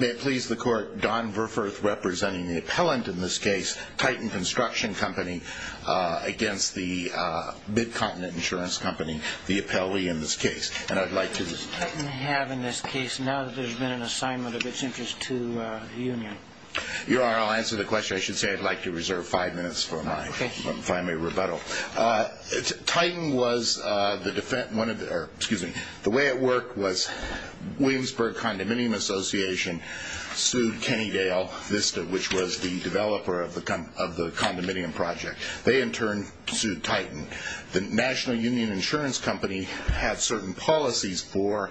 May it please the court, Don Verfurth representing the appellant in this case, Titan Construction Company, against the Mid-Continent Insurance Company, the appellee in this case. What does Titan have in this case now that there's been an assignment of its interest to the union? Your Honor, I'll answer the question. I should say I'd like to reserve five minutes for my final rebuttal. Titan was the way it worked was Williamsburg Condominium Association sued Kennedale Vista, which was the developer of the condominium project. They in turn sued Titan. The National Union Insurance Company had certain policies for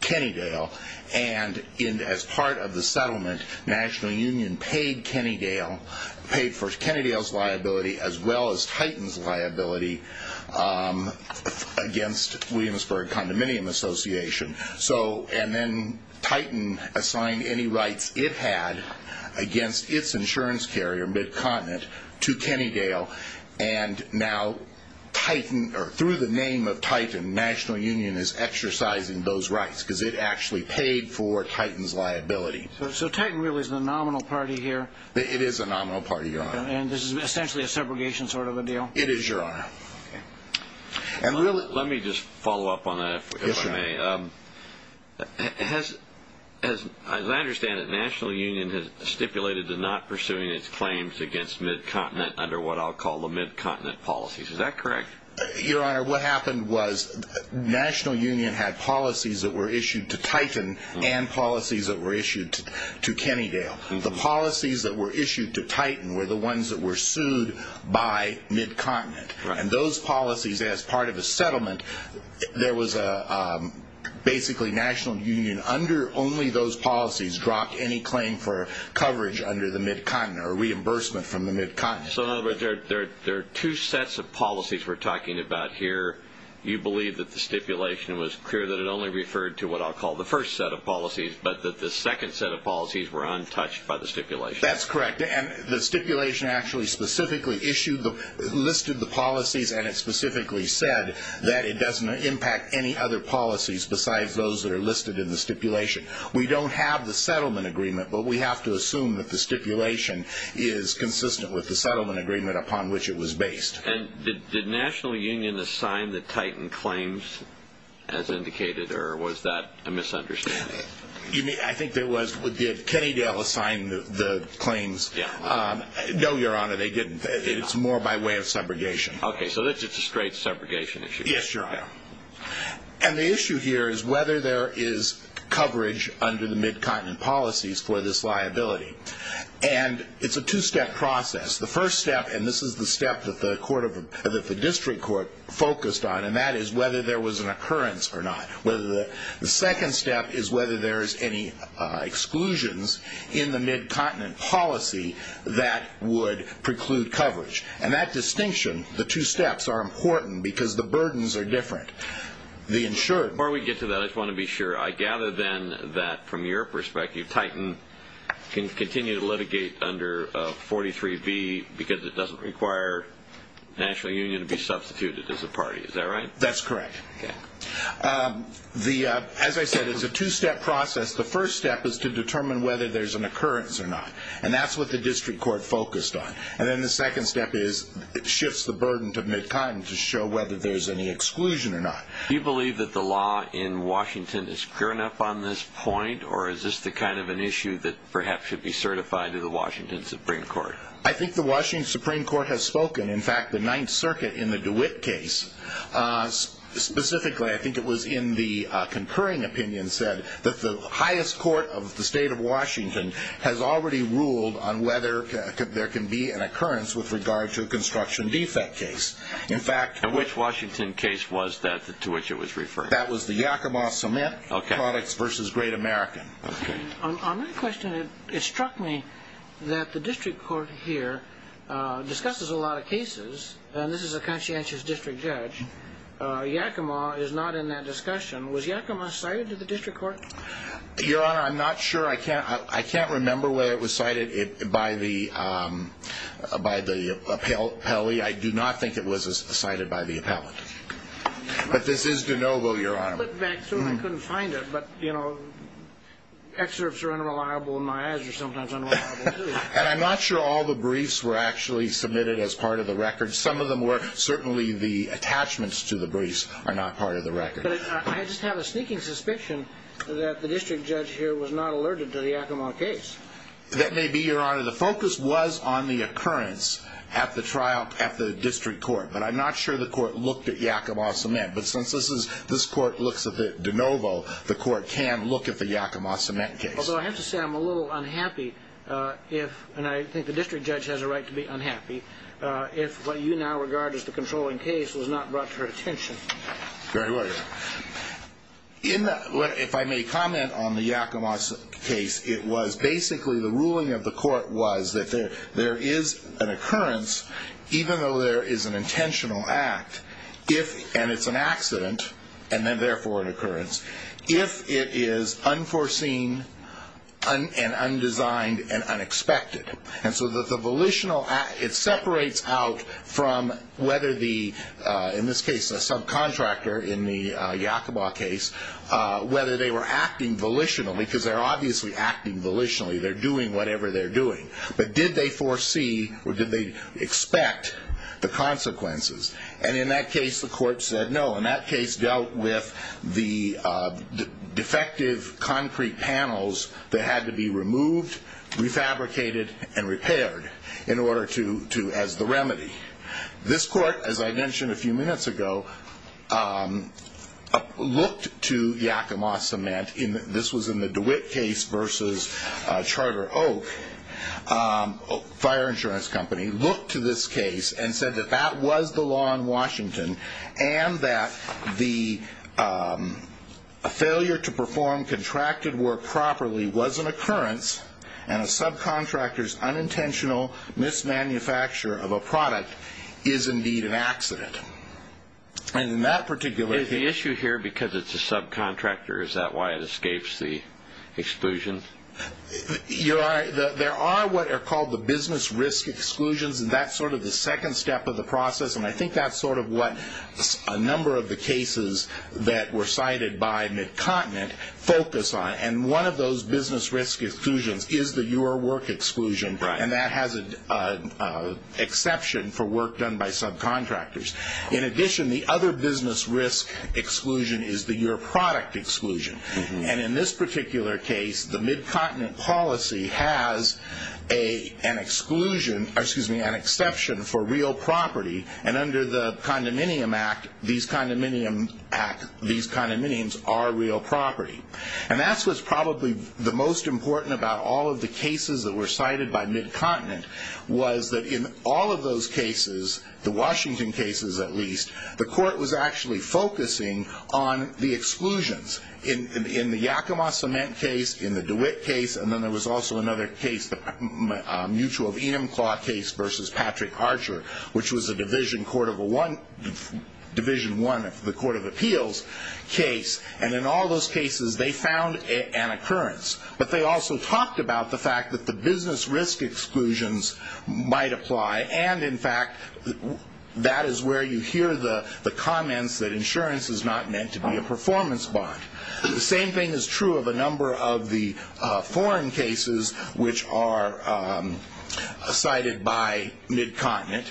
Kennedale, and as part of the settlement, National Union paid for Kennedale's liability as well as Titan's liability against Williamsburg Condominium Association. And then Titan assigned any rights it had against its insurance carrier, Mid-Continent, to Kennedale. And now through the name of Titan, National Union is exercising those rights because it actually paid for Titan's liability. So Titan really is the nominal party here? It is the nominal party, Your Honor. And this is essentially a segregation sort of a deal? It is, Your Honor. Let me just follow up on that, if I may. As I understand it, National Union has stipulated to not pursuing its claims against Mid-Continent under what I'll call the Mid-Continent policies. Is that correct? Your Honor, what happened was National Union had policies that were issued to Titan and policies that were issued to Kennedale. The policies that were issued to Titan were the ones that were sued by Mid-Continent. And those policies, as part of the settlement, there was basically National Union, under only those policies, dropped any claim for coverage under the Mid-Continent or reimbursement from the Mid-Continent. So in other words, there are two sets of policies we're talking about here. You believe that the stipulation was clear that it only referred to what I'll call the first set of policies, but that the second set of policies were untouched by the stipulation? That's correct. And the stipulation actually specifically issued the, listed the policies, and it specifically said that it doesn't impact any other policies besides those that are listed in the stipulation. We don't have the settlement agreement, but we have to assume that the stipulation is consistent with the settlement agreement upon which it was based. And did National Union assign the Titan claims, as indicated, or was that a misunderstanding? I think there was, did Kennedale assign the claims? Yeah. No, Your Honor, they didn't. It's more by way of segregation. Okay, so it's a straight segregation issue. Yes, Your Honor. And the issue here is whether there is coverage under the Mid-Continent policies for this liability. And it's a two-step process. The first step, and this is the step that the District Court focused on, and that is whether there was an occurrence or not. The second step is whether there is any exclusions in the Mid-Continent policy that would preclude coverage. And that distinction, the two steps, are important because the burdens are different. Before we get to that, I just want to be sure. I gather then that, from your perspective, Titan can continue to litigate under 43B because it doesn't require National Union to be substituted as a party. Is that right? That's correct. As I said, it's a two-step process. The first step is to determine whether there's an occurrence or not, and that's what the District Court focused on. And then the second step is it shifts the burden to Mid-Continent to show whether there's any exclusion or not. Do you believe that the law in Washington is clear enough on this point, or is this the kind of an issue that perhaps should be certified to the Washington Supreme Court? I think the Washington Supreme Court has spoken. In fact, the Ninth Circuit in the DeWitt case specifically, I think it was in the concurring opinion, said that the highest court of the state of Washington has already ruled on whether there can be an occurrence with regard to a construction defect case. Which Washington case was that to which it was referred? That was the Yakima Cement Products v. Great American. On that question, it struck me that the District Court here discusses a lot of cases, and this is a conscientious district judge. Yakima is not in that discussion. Was Yakima cited to the District Court? Your Honor, I'm not sure. I can't remember where it was cited by the appellee. I do not think it was cited by the appellate. But this is de novo, Your Honor. I looked back through and I couldn't find it, but, you know, excerpts are unreliable in my eyes or sometimes unreliable, too. And I'm not sure all the briefs were actually submitted as part of the record. Some of them were. Certainly the attachments to the briefs are not part of the record. But I just have a sneaking suspicion that the district judge here was not alerted to the Yakima case. That may be, Your Honor. The focus was on the occurrence at the district court, but I'm not sure the court looked at Yakima Cement. But since this court looks at it de novo, the court can look at the Yakima Cement case. Although I have to say I'm a little unhappy if, and I think the district judge has a right to be unhappy, if what you now regard as the controlling case was not brought to her attention. Very well, Your Honor. If I may comment on the Yakima case, it was basically the ruling of the court was that there is an occurrence, even though there is an intentional act, and it's an accident and then therefore an occurrence, if it is unforeseen and undesigned and unexpected. And so the volitional act, it separates out from whether the, in this case, a subcontractor in the Yakima case, whether they were acting volitionally, because they're obviously acting volitionally. They're doing whatever they're doing. But did they foresee or did they expect the consequences? And in that case, the court said no. And that case dealt with the defective concrete panels that had to be removed, refabricated, and repaired in order to, as the remedy. This court, as I mentioned a few minutes ago, looked to Yakima Cement. This was in the DeWitt case versus Charter Oak. Fire insurance company looked to this case and said that that was the law in Washington and that the failure to perform contracted work properly was an occurrence and a subcontractor's unintentional mismanufacture of a product is indeed an accident. And in that particular case. The issue here, because it's a subcontractor, is that why it escapes the exclusion? There are what are called the business risk exclusions, and that's sort of the second step of the process. And I think that's sort of what a number of the cases that were cited by McContinent focus on. And one of those business risk exclusions is the your work exclusion. And that has an exception for work done by subcontractors. In addition, the other business risk exclusion is the your product exclusion. And in this particular case, the McContinent policy has an exception for real property. And under the Condominium Act, these condominiums are real property. And that's what's probably the most important about all of the cases that were cited by McContinent, was that in all of those cases, the Washington cases at least, the court was actually focusing on the exclusions. In the Yakima Cement case, in the DeWitt case, and then there was also another case, the Mutual of Enumclaw case versus Patrick Archer, which was a Division I of the Court of Appeals case. And in all those cases, they found an occurrence. But they also talked about the fact that the business risk exclusions might apply. And, in fact, that is where you hear the comments that insurance is not meant to be a performance bond. The same thing is true of a number of the foreign cases which are cited by McContinent.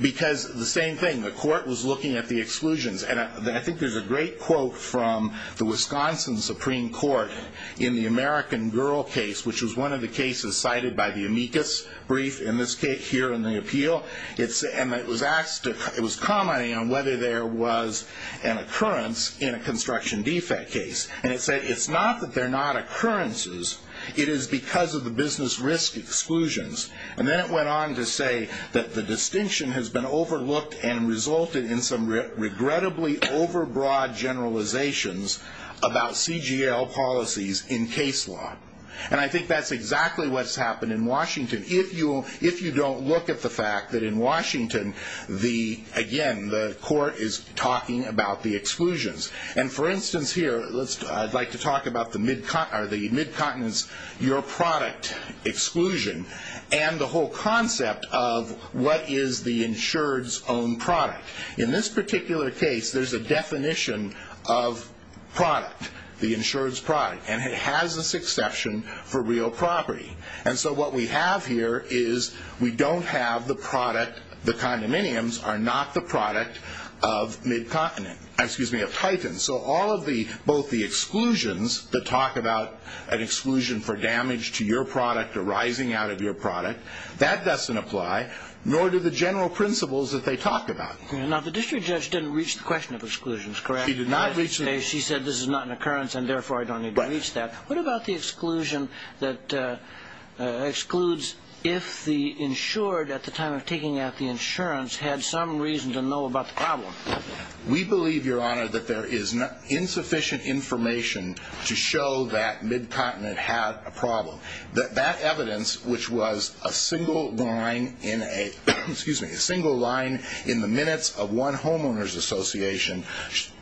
Because the same thing, the court was looking at the exclusions. And I think there's a great quote from the Wisconsin Supreme Court in the American Girl case, which was one of the cases cited by the amicus brief in this case here in the appeal. And it was commenting on whether there was an occurrence in a construction defect case. And it said, it's not that they're not occurrences. It is because of the business risk exclusions. And then it went on to say that the distinction has been overlooked and resulted in some regrettably overbroad generalizations about CGL policies in case law. And I think that's exactly what's happened in Washington. If you don't look at the fact that in Washington, again, the court is talking about the exclusions. And, for instance, here, I'd like to talk about the McContinent's Your Product exclusion and the whole concept of what is the insured's own product. In this particular case, there's a definition of product, the insured's product. And it has this exception for real property. And so what we have here is we don't have the product. The condominiums are not the product of McContinent, excuse me, of Titan. So all of the, both the exclusions that talk about an exclusion for damage to your product or rising out of your product, that doesn't apply, nor do the general principles that they talk about. Now, the district judge didn't reach the question of exclusions, correct? She did not reach them. She said this is not an occurrence, and therefore I don't need to reach that. What about the exclusion that excludes if the insured, at the time of taking out the insurance, had some reason to know about the problem? We believe, Your Honor, that there is insufficient information to show that McContinent had a problem. That that evidence, which was a single line in a, excuse me, a single line in the minutes of one homeowner's association,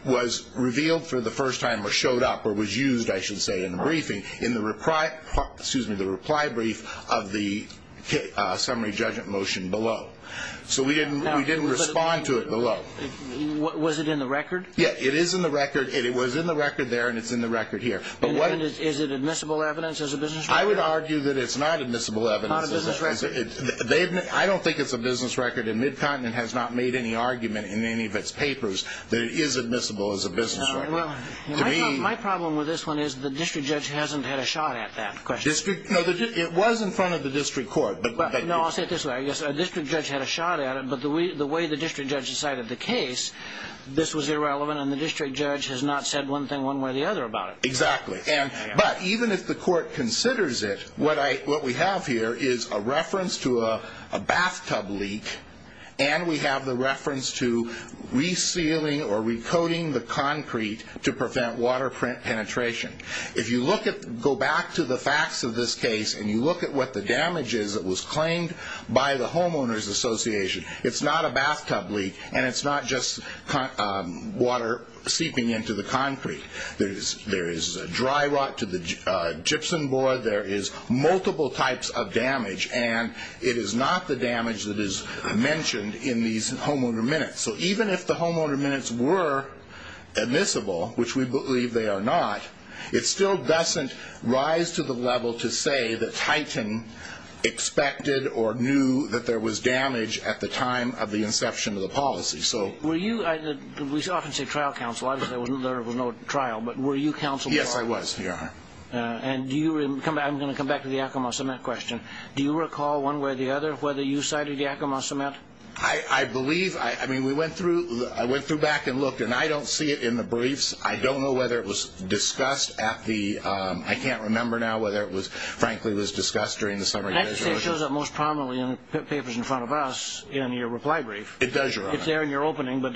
was revealed for the first time or showed up or was used, I should say, in the briefing, in the reply, excuse me, the reply brief of the summary judgment motion below. So we didn't respond to it below. Was it in the record? Yeah, it is in the record. It was in the record there, and it's in the record here. But what And is it admissible evidence as a business record? I would argue that it's not admissible evidence. Not a business record? I don't think it's a business record, and McContinent has not made any argument in any of its papers that it is admissible as a business record. Well, my problem with this one is the district judge hasn't had a shot at that question. No, it was in front of the district court, but No, I'll say it this way. A district judge had a shot at it, but the way the district judge decided the case, this was irrelevant, and the district judge has not said one thing one way or the other about it. Exactly. But even if the court considers it, what we have here is a reference to a bathtub leak, and we have the reference to resealing or recoating the concrete to prevent water penetration. If you go back to the facts of this case and you look at what the damage is that was claimed by the homeowners association, it's not a bathtub leak, and it's not just water seeping into the concrete. There is dry rot to the gypsum board. There is multiple types of damage, and it is not the damage that is mentioned in these homeowner minutes. So even if the homeowner minutes were admissible, which we believe they are not, it still doesn't rise to the level to say that Titan expected or knew that there was damage at the time of the inception of the policy. We often say trial counsel. Obviously, there was no trial, but were you counsel? Yes, I was, Your Honor. I'm going to come back to the Yakima cement question. Do you recall one way or the other whether you cited Yakima cement? I believe, I mean, we went through, I went through back and looked, and I don't see it in the briefs. I don't know whether it was discussed at the, I can't remember now whether it frankly was discussed during the summary. It shows up most prominently in the papers in front of us in your reply brief. It does, Your Honor. It's there in your opening, but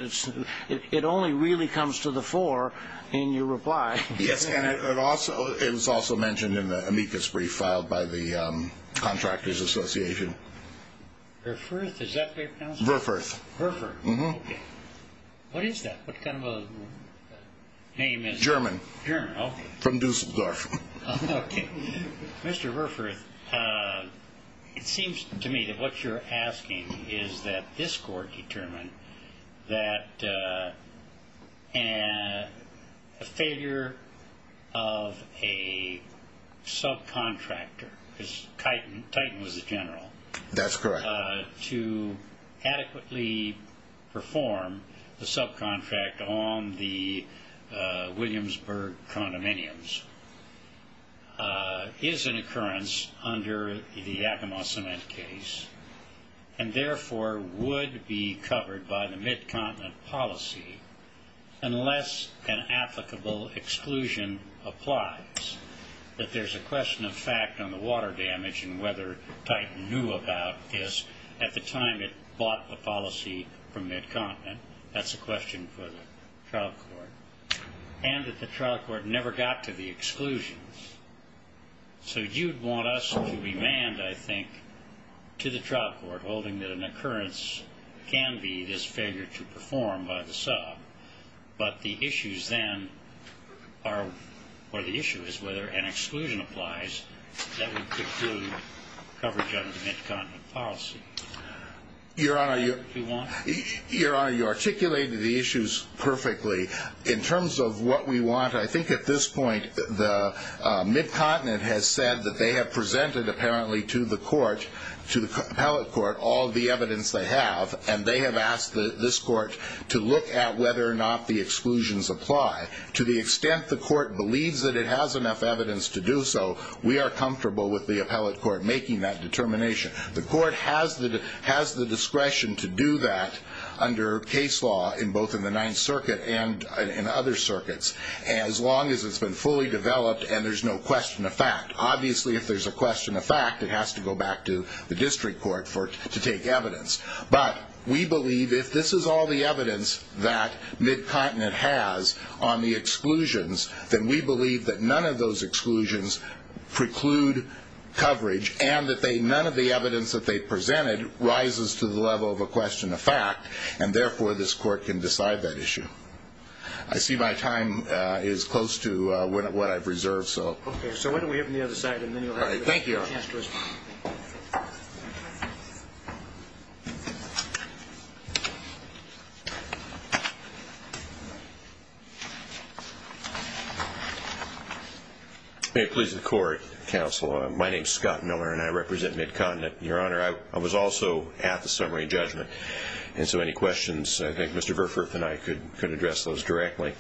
it only really comes to the fore in your reply. Yes, and it was also mentioned in the amicus brief filed by the contractors association. Verfurth, is that the way it's pronounced? Verfurth. Verfurth, okay. What is that? What kind of a name is that? German. German, okay. From Dusseldorf. Okay. Mr. Verfurth, it seems to me that what you're asking is that this court determined that a failure of a subcontractor, because Titan was the general. That's correct. To adequately perform the subcontract on the Williamsburg condominiums is an occurrence under the Yakima cement case and therefore would be covered by the mid-continent policy unless an applicable exclusion applies. That there's a question of fact on the water damage and whether Titan knew about this at the time it bought the policy from mid-continent. That's a question for the trial court. And that the trial court never got to the exclusions. So you'd want us to demand, I think, to the trial court, holding that an occurrence can be this failure to perform by the sub, but the issue is whether an exclusion applies that would conclude coverage under the mid-continent policy. Your Honor, you articulated the issues perfectly. In terms of what we want, I think at this point the mid-continent has said that they have presented apparently to the court, to the appellate court, all the evidence they have, and they have asked this court to look at whether or not the exclusions apply. To the extent the court believes that it has enough evidence to do so, we are comfortable with the appellate court making that determination. The court has the discretion to do that under case law, both in the Ninth Circuit and in other circuits, as long as it's been fully developed and there's no question of fact. Obviously, if there's a question of fact, it has to go back to the district court to take evidence. But we believe if this is all the evidence that mid-continent has on the exclusions, then we believe that none of those exclusions preclude coverage, and that none of the evidence that they presented rises to the level of a question of fact, and therefore this court can decide that issue. I see my time is close to what I've reserved, so. Okay, so why don't we open the other side and then you'll have a chance to respond. Thank you, Your Honor. May it please the Court, Counsel, my name is Scott Miller and I represent Mid-Continent. Your Honor, I was also at the summary judgment, and so any questions, I think Mr. Verfurth and I could address those directly.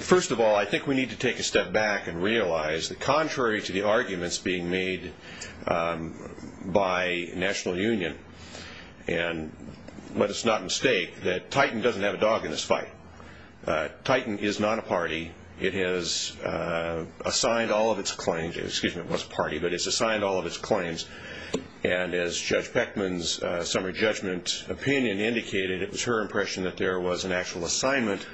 First of all, I think we need to take a step back and realize that contrary to the arguments being made by National Union, and let us not mistake that Titan doesn't have a dog in this fight. Titan is not a party. It has assigned all of its claims, excuse me, it was a party, but it's assigned all of its claims, and as Judge Peckman's summary judgment opinion indicated, it was her impression that there was an actual assignment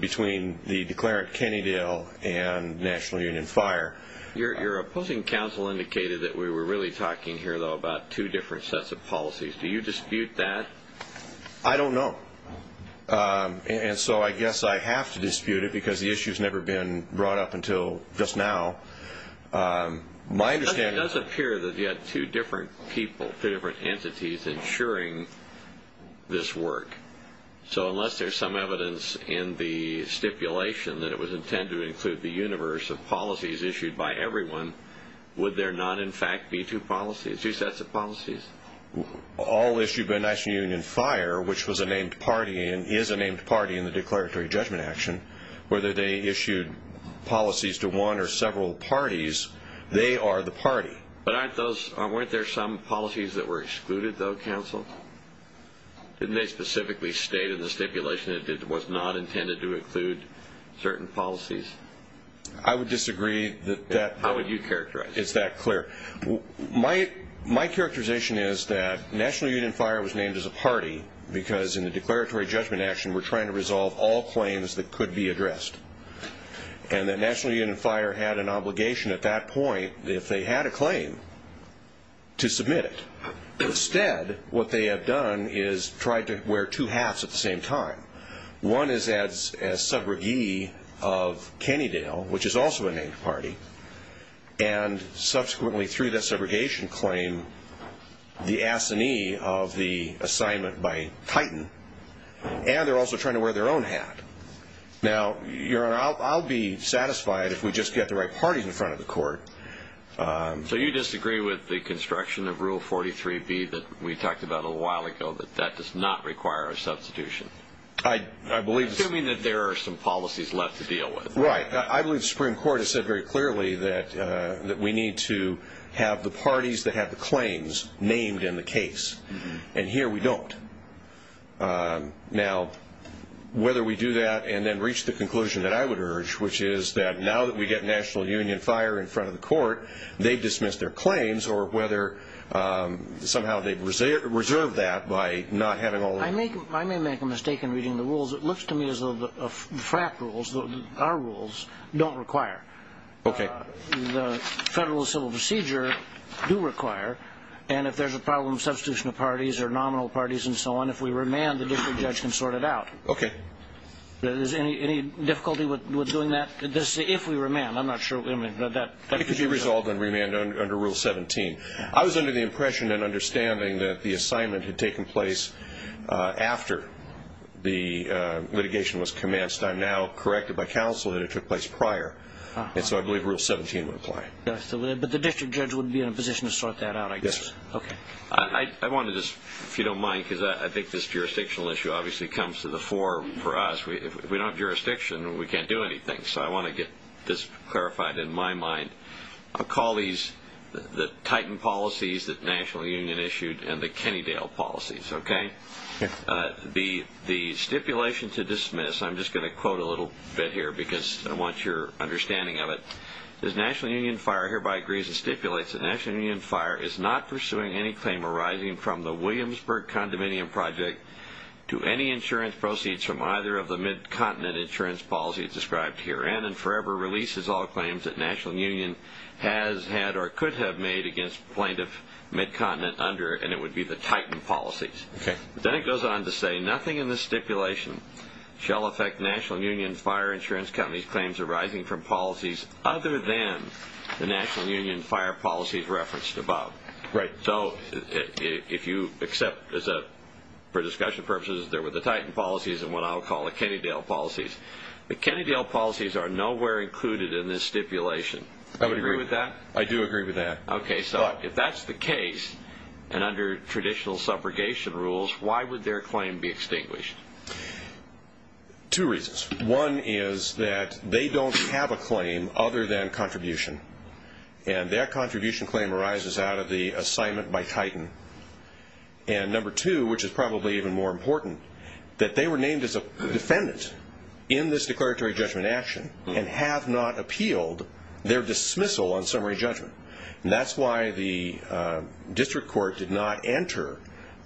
between the declarant Kennedale and National Union Fire. Your opposing counsel indicated that we were really talking here, though, about two different sets of policies. Do you dispute that? I don't know, and so I guess I have to dispute it because the issue has never been brought up until just now. It does appear that you had two different people, two different entities ensuring this work. So unless there's some evidence in the stipulation that it was intended to include the universe of policies issued by everyone, would there not in fact be two sets of policies? All issued by National Union Fire, which was a named party and is a named party in the declaratory judgment action, whether they issued policies to one or several parties, they are the party. But weren't there some policies that were excluded, though, counsel? Didn't they specifically state in the stipulation that it was not intended to include certain policies? I would disagree. How would you characterize it? It's that clear. My characterization is that National Union Fire was named as a party because in the declaratory judgment action we're trying to resolve all claims that could be addressed, and that National Union Fire had an obligation at that point, if they had a claim, to submit it. Instead, what they have done is tried to wear two hats at the same time. One is as subrogee of Kennedale, which is also a named party, and subsequently, through that subrogation claim, the assignee of the assignment by Titan, and they're also trying to wear their own hat. Now, Your Honor, I'll be satisfied if we just get the right parties in front of the court. So you disagree with the construction of Rule 43B that we talked about a little while ago, that that does not require a substitution? Assuming that there are some policies left to deal with. Right. I believe the Supreme Court has said very clearly that we need to have the parties that have the claims named in the case, and here we don't. Now, whether we do that and then reach the conclusion that I would urge, which is that now that we get National Union Fire in front of the court, they've dismissed their claims, or whether somehow they've reserved that by not having all that. I may make a mistake in reading the rules. It looks to me as though the FRAC rules, our rules, don't require. Okay. The Federal Civil Procedure do require, and if there's a problem with substitution of parties or nominal parties and so on, if we remand, the district judge can sort it out. Okay. Is there any difficulty with doing that, if we remand? I'm not sure. It could be resolved on remand under Rule 17. I was under the impression and understanding that the assignment had taken place after the litigation was commenced. I'm now corrected by counsel that it took place prior, and so I believe Rule 17 would apply. But the district judge would be in a position to sort that out, I guess. Yes, sir. Okay. I want to just, if you don't mind, because I think this jurisdictional issue obviously comes to the fore for us. If we don't have jurisdiction, we can't do anything, so I want to get this clarified in my mind. I'll call these the Titan policies that the National Union issued and the Kennedale policies, okay? Yes. The stipulation to dismiss, I'm just going to quote a little bit here because I want your understanding of it. This National Union fire hereby agrees and stipulates that the National Union fire is not pursuing any claim arising from the Williamsburg condominium project to any insurance proceeds from either of the mid-continent insurance policies described herein and forever releases all claims that National Union has had or could have made against plaintiff mid-continent under, and it would be the Titan policies. Okay. Then it goes on to say, nothing in this stipulation shall affect National Union fire insurance company's claims arising from policies other than the National Union fire policies referenced above. Right. So if you accept, for discussion purposes, there were the Titan policies and what I'll call the Kennedale policies. The Kennedale policies are nowhere included in this stipulation. Do you agree with that? I do agree with that. Okay. So if that's the case and under traditional subrogation rules, why would their claim be extinguished? Two reasons. One is that they don't have a claim other than contribution, and their contribution claim arises out of the assignment by Titan. And number two, which is probably even more important, that they were named as a defendant in this declaratory judgment action and have not appealed their dismissal on summary judgment. And that's why the district court did not enter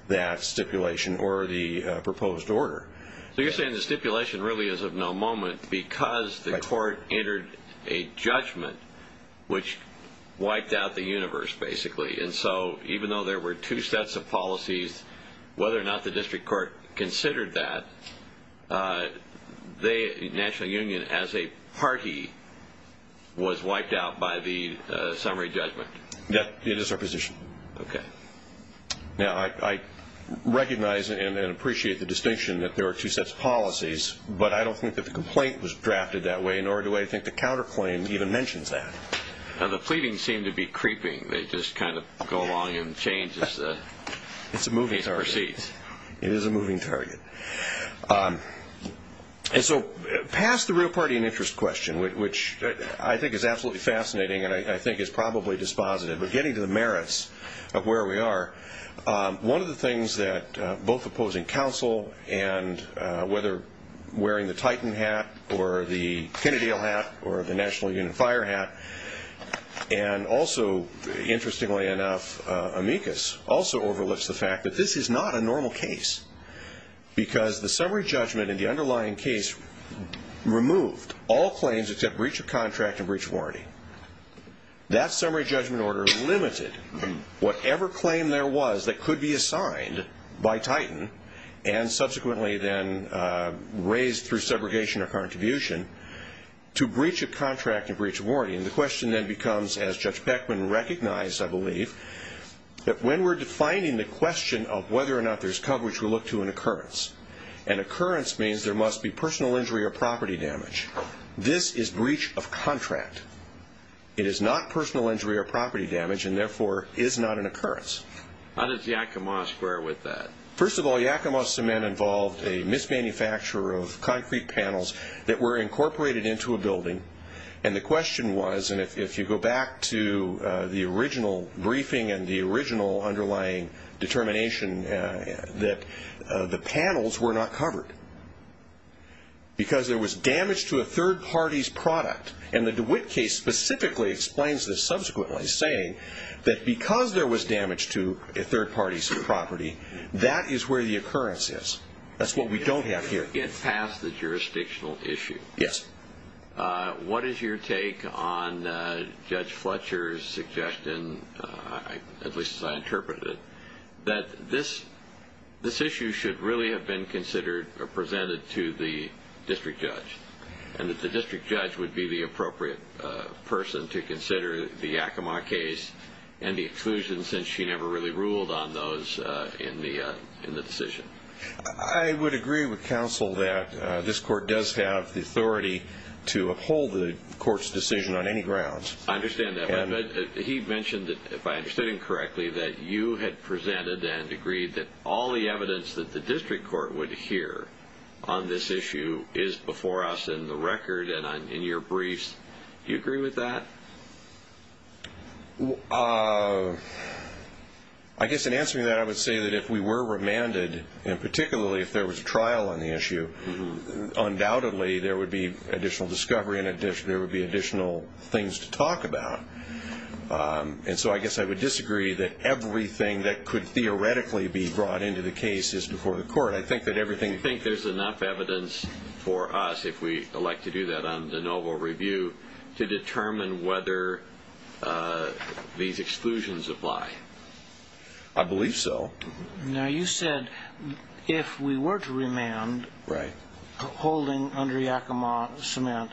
that stipulation or the proposed order. So you're saying the stipulation really is of no moment because the court entered a judgment which wiped out the universe, basically. And so even though there were two sets of policies, whether or not the district court considered that, the National Union as a party was wiped out by the summary judgment. Yes, it is our position. Okay. Now, I recognize and appreciate the distinction that there are two sets of policies, but I don't think that the complaint was drafted that way, nor do I think the counterclaim even mentions that. The pleadings seem to be creeping. They just kind of go along and change as the case proceeds. It's a moving target. It is a moving target. And so past the real party and interest question, which I think is absolutely fascinating and I think is probably dispositive of getting to the merits of where we are, one of the things that both opposing counsel and whether wearing the Titan hat or the Kennedy hat or the National Union fire hat and also, interestingly enough, amicus also overlooks the fact that this is not a normal case because the summary judgment in the underlying case removed all claims except breach of contract and breach of warranty. That summary judgment order limited whatever claim there was that could be assigned by Titan and subsequently then raised through segregation or contribution to breach of contract and breach of warranty. And the question then becomes, as Judge Peckman recognized, I believe, that when we're defining the question of whether or not there's coverage, we look to an occurrence. An occurrence means there must be personal injury or property damage. This is breach of contract. It is not personal injury or property damage and, therefore, is not an occurrence. How does Yakima square with that? First of all, Yakima cement involved a mismanufacturer of concrete panels that were incorporated into a building and the question was, and if you go back to the original briefing and the original underlying determination, that the panels were not covered because there was damage to a third party's product and the DeWitt case specifically explains this subsequently, saying that because there was damage to a third party's property, that is where the occurrence is. That's what we don't have here. You didn't get past the jurisdictional issue. Yes. What is your take on Judge Fletcher's suggestion, at least as I interpret it, that this issue should really have been considered or presented to the district judge and that the district judge would be the appropriate person to consider the Yakima case and the exclusion since she never really ruled on those in the decision? I would agree with counsel that this court does have the authority to uphold the court's decision on any grounds. I understand that. He mentioned, if I understood him correctly, that you had presented and agreed that all the evidence that the district court would hear on this issue is before us in the record and in your briefs. Do you agree with that? I guess in answering that, I would say that if we were remanded, and particularly if there was a trial on the issue, undoubtedly there would be additional discovery and there would be additional things to talk about. So I guess I would disagree that everything that could theoretically be brought into the case is before the court. Do you think there's enough evidence for us, if we elect to do that on de novo review, to determine whether these exclusions apply? I believe so. Now, you said if we were to remand, holding under Yakima cement,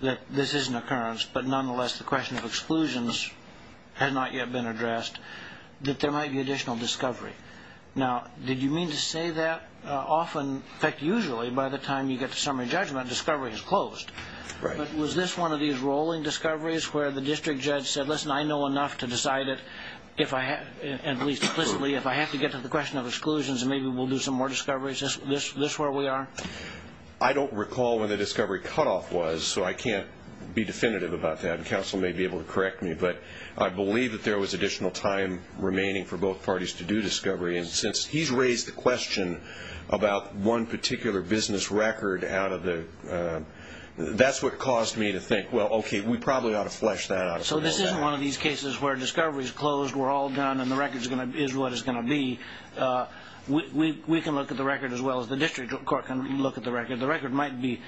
that this is an occurrence, but nonetheless the question of exclusions has not yet been addressed, that there might be additional discovery. Now, did you mean to say that often? In fact, usually by the time you get to summary judgment, discovery is closed. But was this one of these rolling discoveries where the district judge said, listen, I know enough to decide it, at least implicitly, if I have to get to the question of exclusions and maybe we'll do some more discoveries? Is this where we are? I don't recall when the discovery cutoff was, so I can't be definitive about that. Counsel may be able to correct me, but I believe that there was additional time remaining for both parties to do discovery. And since he's raised the question about one particular business record, that's what caused me to think, well, okay, we probably ought to flesh that out. So this isn't one of these cases where discovery is closed, we're all done, and the record is what it's going to be. We can look at the record as well as the district court can look at the record. The record might be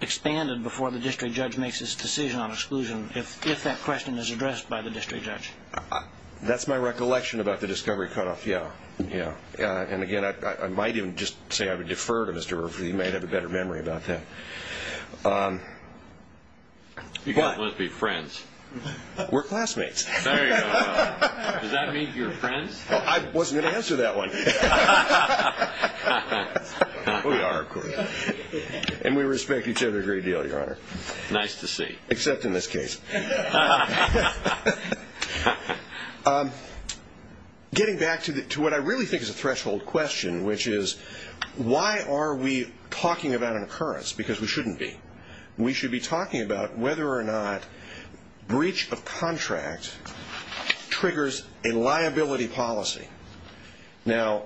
expanded before the district judge makes his decision on exclusion if that question is addressed by the district judge. That's my recollection about the discovery cutoff, yeah, yeah. And, again, I might even just say I would defer to Mr. Murphy. He may have a better memory about that. You guys must be friends. We're classmates. There you go. Does that mean you're friends? I wasn't going to answer that one. We are, of course. And we respect each other a great deal, Your Honor. Nice to see. Except in this case. Getting back to what I really think is a threshold question, which is why are we talking about an occurrence, because we shouldn't be. We should be talking about whether or not breach of contract triggers a liability policy. Now,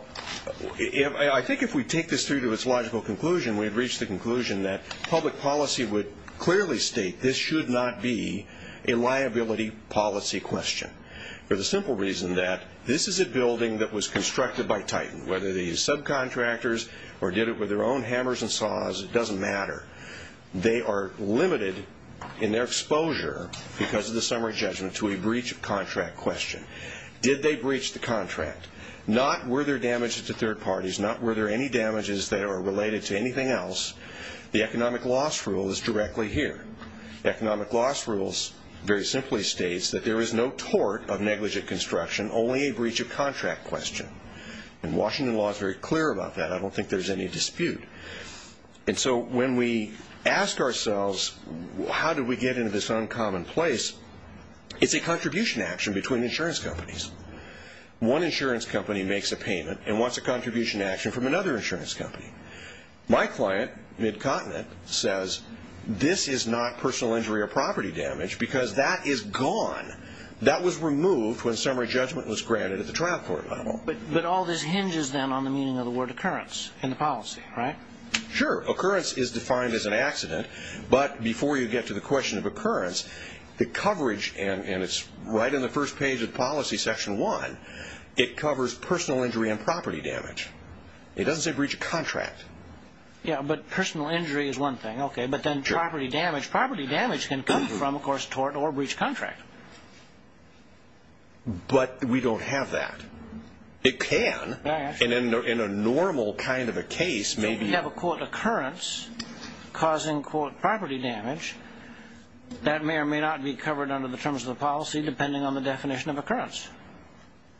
I think if we take this through to its logical conclusion, we'd reach the conclusion that public policy would clearly state this should not be a liability policy question. For the simple reason that this is a building that was constructed by Titan, whether they used subcontractors or did it with their own hammers and saws, it doesn't matter. They are limited in their exposure because of the summary judgment to a breach of contract question. Did they breach the contract? Not were there damages to third parties, not were there any damages that are related to anything else, the economic loss rule is directly here. Economic loss rules very simply states that there is no tort of negligent construction, only a breach of contract question. And Washington law is very clear about that. I don't think there's any dispute. And so when we ask ourselves how did we get into this uncommon place, it's a contribution action between insurance companies. One insurance company makes a payment and wants a contribution action from another insurance company. My client, Midcontinent, says this is not personal injury or property damage because that is gone. That was removed when summary judgment was granted at the trial court level. But all this hinges then on the meaning of the word occurrence in the policy, right? Sure. Occurrence is defined as an accident. But before you get to the question of occurrence, the coverage, and it's right on the first page of policy section one, it covers personal injury and property damage. It doesn't say breach of contract. Yeah, but personal injury is one thing. Okay, but then property damage, property damage can come from, of course, tort or breach of contract. But we don't have that. It can. And in a normal kind of a case, maybe. If we have a, quote, occurrence causing, quote, property damage, that may or may not be covered under the terms of the policy depending on the definition of occurrence.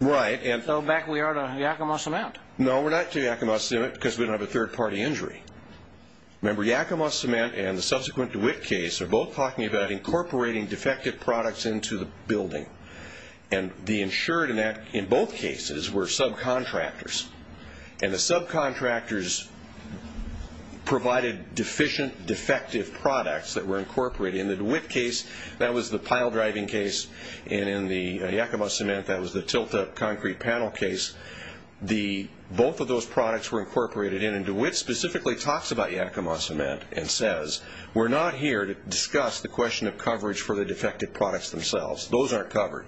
Right. So back we are to Yakima Cement. No, we're not to Yakima Cement because we don't have a third-party injury. Remember, Yakima Cement and the subsequent DeWitt case are both talking about incorporating defective products into the building. And the insured in both cases were subcontractors. And the subcontractors provided deficient, defective products that were incorporated. In the DeWitt case, that was the pile driving case. And in the Yakima Cement, that was the tilt-up concrete panel case. Both of those products were incorporated in. And DeWitt specifically talks about Yakima Cement and says, we're not here to discuss the question of coverage for the defective products themselves. Those aren't covered.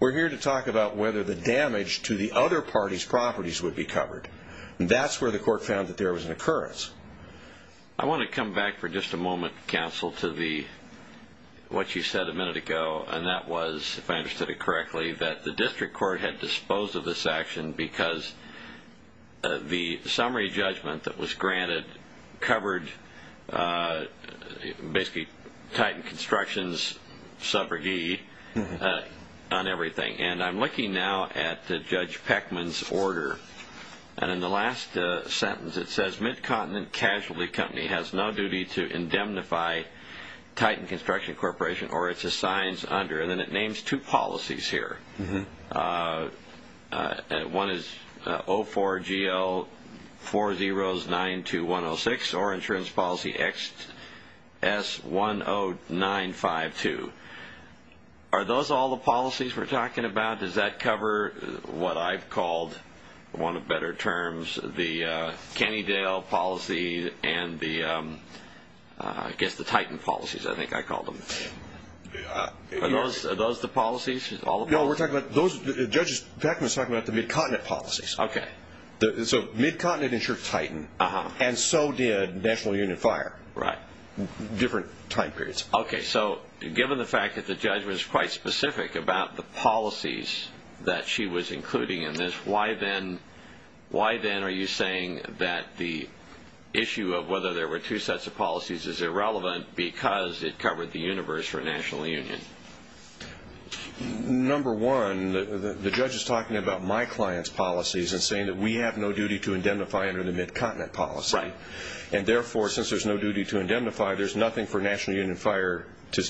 We're here to talk about whether the damage to the other party's properties would be covered. And that's where the court found that there was an occurrence. I want to come back for just a moment, counsel, to what you said a minute ago, and that was, if I understood it correctly, that the district court had disposed of this action because the summary judgment that was granted covered basically Titan Constructions' subrogate on everything. And I'm looking now at Judge Peckman's order. And in the last sentence it says, Mid-Continent Casualty Company has no duty to indemnify Titan Construction Corporation or its assigns under. And then it names two policies here. One is 04GL4092106 or insurance policy XS10952. Are those all the policies we're talking about? Does that cover what I've called, for want of better terms, the Cannondale policy and the, I guess, the Titan policies, I think I called them. Are those the policies? No, we're talking about those. Judge Peckman is talking about the Mid-Continent policies. Okay. So Mid-Continent insured Titan, and so did National Union Fire. Right. Different time periods. Okay. So given the fact that the judge was quite specific about the policies that she was including in this, why then are you saying that the issue of whether there were two sets of policies is irrelevant because it covered the universe for National Union? Number one, the judge is talking about my client's policies and saying that we have no duty to indemnify under the Mid-Continent policy. Right. And therefore, since there's no duty to indemnify, there's nothing for National Union Fire to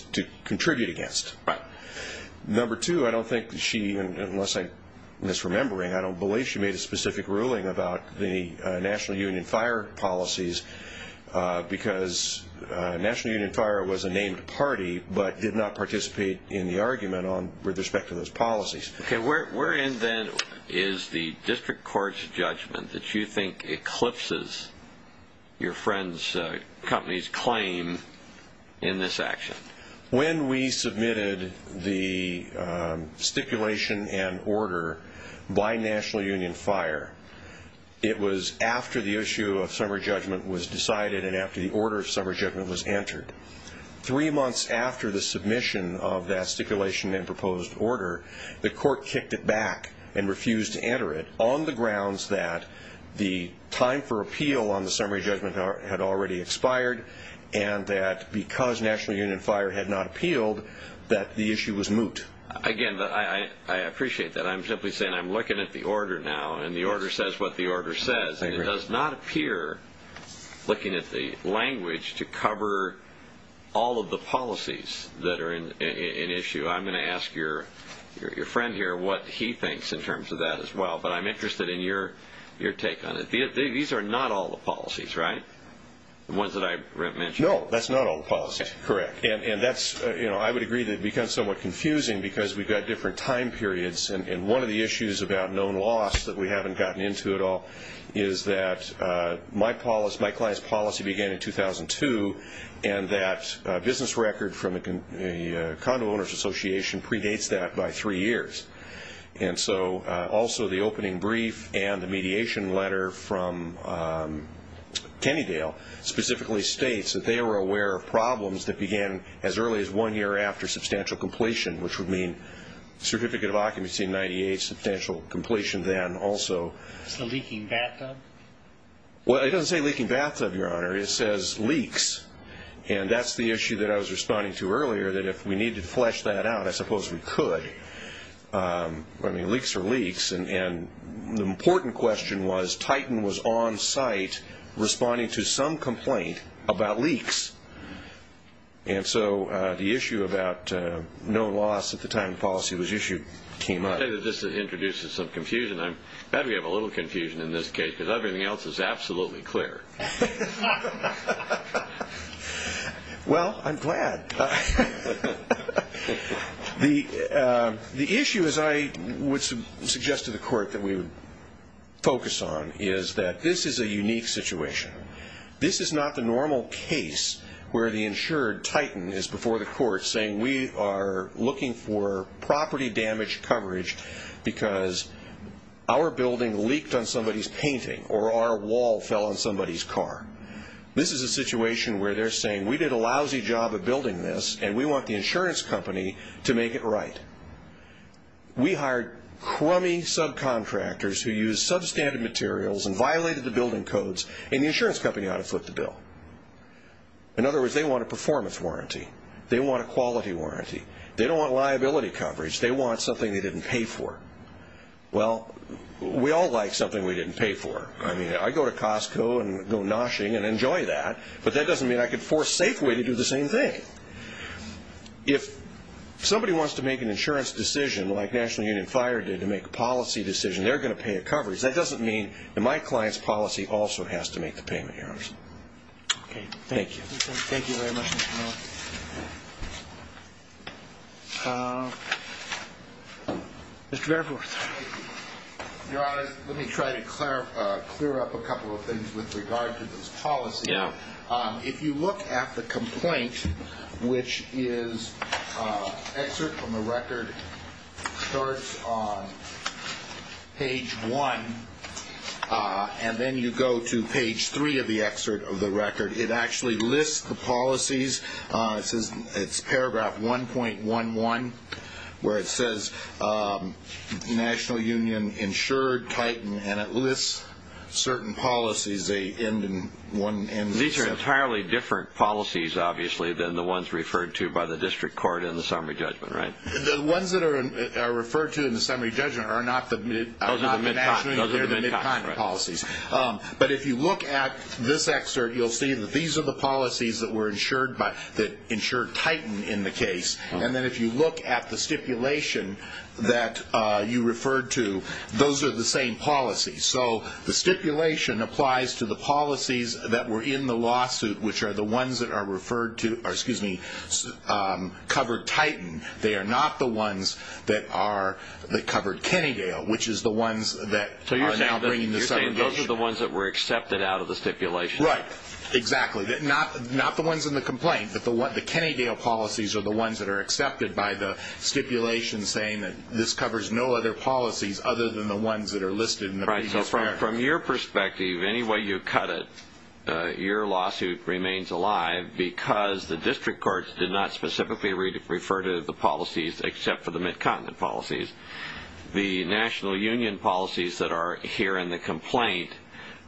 contribute against. Right. Number two, I don't think she, unless I'm misremembering, I don't believe she made a specific ruling about the National Union Fire policies because National Union Fire was a named party but did not participate in the argument with respect to those policies. Okay. Wherein, then, is the district court's judgment that you think eclipses your friend's company's claim in this action? When we submitted the stipulation and order by National Union Fire, it was after the issue of summary judgment was decided and after the order of summary judgment was entered. Three months after the submission of that stipulation and proposed order, the court kicked it back and refused to enter it on the grounds that the time for appeal on the summary judgment had already expired and that because National Union Fire had not appealed that the issue was moot. Again, I appreciate that. I'm simply saying I'm looking at the order now, and the order says what the order says, and it does not appear, looking at the language, to cover all of the policies that are in issue. I'm going to ask your friend here what he thinks in terms of that as well, but I'm interested in your take on it. These are not all the policies, right, the ones that I mentioned? No, that's not all the policies. Correct. I would agree that it becomes somewhat confusing because we've got different time periods, and one of the issues about known loss that we haven't gotten into at all is that my client's policy began in 2002 and that business record from the Condo Owners Association predates that by three years. And so also the opening brief and the mediation letter from Kennedale specifically states that they were aware of problems that began as early as one year after substantial completion, which would mean Certificate of Occupancy in 1998, substantial completion then also. Is it a leaking bathtub? Well, it doesn't say leaking bathtub, Your Honor. It says leaks, and that's the issue that I was responding to earlier, that if we needed to flesh that out, I suppose we could. I mean, leaks are leaks, and the important question was Titan was on site responding to some complaint about leaks, and so the issue about known loss at the time the policy was issued came up. I'll tell you, this introduces some confusion. I'm glad we have a little confusion in this case because everything else is absolutely clear. Well, I'm glad. The issue, as I would suggest to the Court that we would focus on, is that this is a unique situation. This is not the normal case where the insured Titan is before the Court saying, we are looking for property damage coverage because our building leaked on somebody's painting or our wall fell on somebody's car. This is a situation where they're saying, we did a lousy job of building this, and we want the insurance company to make it right. We hired crummy subcontractors who used substandard materials and violated the building codes, and the insurance company ought to foot the bill. In other words, they want a performance warranty. They want a quality warranty. They don't want liability coverage. They want something they didn't pay for. Well, we all like something we didn't pay for. I mean, I go to Costco and go noshing and enjoy that, but that doesn't mean I could force Safeway to do the same thing. If somebody wants to make an insurance decision like National Union Fire did to make a policy decision, they're going to pay a coverage. That doesn't mean that my client's policy also has to make the payment errors. Okay. Thank you. Thank you very much, Mr. Miller. Mr. Barefoot. Your Honors, let me try to clear up a couple of things with regard to this policy. Yeah. If you look at the complaint, which is excerpt from the record, starts on page 1, and then you go to page 3 of the excerpt of the record. It's paragraph 1.11, where it says, National Union insured, tightened, and it lists certain policies. These are entirely different policies, obviously, than the ones referred to by the district court in the summary judgment, right? The ones that are referred to in the summary judgment are not the National Union, they're the mid-continent policies. But if you look at this excerpt, you'll see that these are the policies that insured tighten in the case. And then if you look at the stipulation that you referred to, those are the same policies. So the stipulation applies to the policies that were in the lawsuit, which are the ones that are referred to, or, excuse me, covered tighten. They are not the ones that covered Kennegale, which is the ones that are now bringing the summary judgment. So you're saying those are the ones that were accepted out of the stipulation? Right, exactly. Not the ones in the complaint, but the Kennegale policies are the ones that are accepted by the stipulation saying that this covers no other policies other than the ones that are listed in the previous paragraph. Right, so from your perspective, any way you cut it, your lawsuit remains alive because the district courts did not specifically refer to the policies, except for the mid-continent policies. The national union policies that are here in the complaint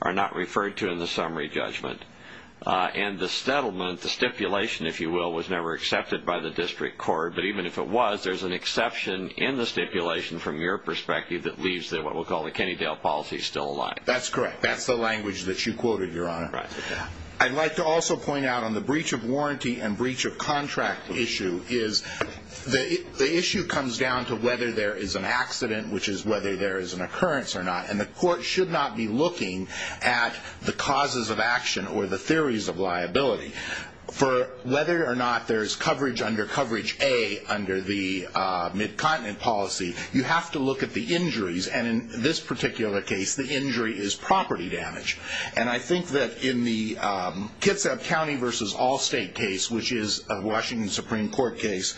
are not referred to in the summary judgment. And the settlement, the stipulation, if you will, was never accepted by the district court. But even if it was, there's an exception in the stipulation from your perspective that leaves what we'll call the Kennedale policies still alive. That's correct. That's the language that you quoted, Your Honor. Right. I'd like to also point out on the breach of warranty and breach of contract issue is the issue comes down to whether there is an accident, which is whether there is an occurrence or not. And the court should not be looking at the causes of action or the theories of liability. For whether or not there's coverage under coverage A under the mid-continent policy, you have to look at the injuries. And in this particular case, the injury is property damage. And I think that in the Kitsap County v. Allstate case, which is a Washington Supreme Court case,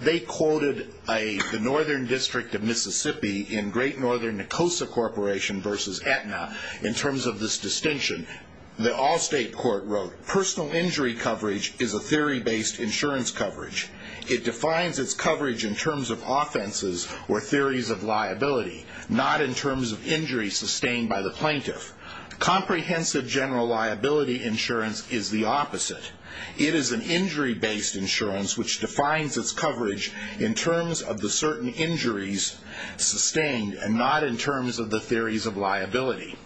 they quoted the Northern District of Mississippi in Great Northern Nicosia Corporation v. Aetna in terms of this distinction. The Allstate court wrote, Personal injury coverage is a theory-based insurance coverage. It defines its coverage in terms of offenses or theories of liability, not in terms of injuries sustained by the plaintiff. Comprehensive general liability insurance is the opposite. It is an injury-based insurance, which defines its coverage in terms of the certain injuries sustained and not in terms of the theories of liability.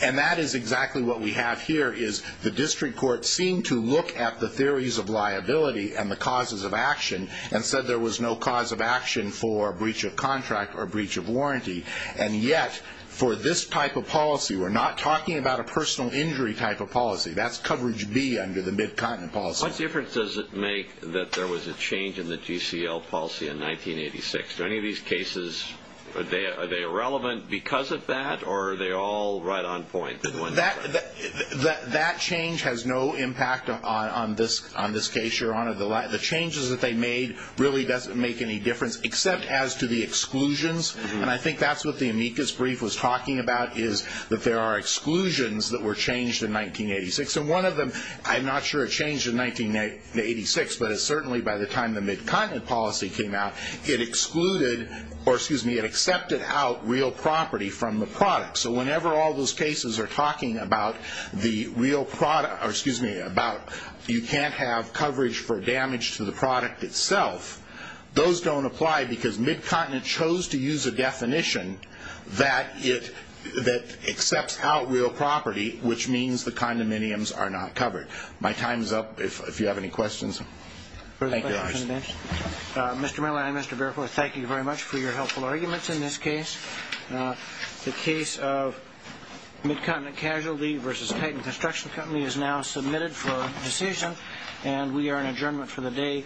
And that is exactly what we have here, is the district court seemed to look at the theories of liability and the causes of action and said there was no cause of action for breach of contract or breach of warranty. And yet, for this type of policy, we're not talking about a personal injury type of policy. That's coverage B under the mid-continent policy. What difference does it make that there was a change in the GCL policy in 1986? Do any of these cases, are they irrelevant because of that, or are they all right on point? That change has no impact on this case, Your Honor. The changes that they made really doesn't make any difference, except as to the exclusions. And I think that's what the amicus brief was talking about, is that there are exclusions that were changed in 1986. And one of them, I'm not sure it changed in 1986, but it certainly, by the time the mid-continent policy came out, it excluded or, excuse me, it accepted out real property from the product. So whenever all those cases are talking about the real product, or, excuse me, about you can't have coverage for damage to the product itself, those don't apply because mid-continent chose to use a definition that it, that accepts out real property, which means the condominiums are not covered. My time's up. If you have any questions, thank you, Your Honor. Mr. Miller, I, Mr. Barefoot, thank you very much for your helpful arguments in this case. The case of mid-continent casualty versus Titan Construction Company is now submitted for decision, and we are in adjournment for the day.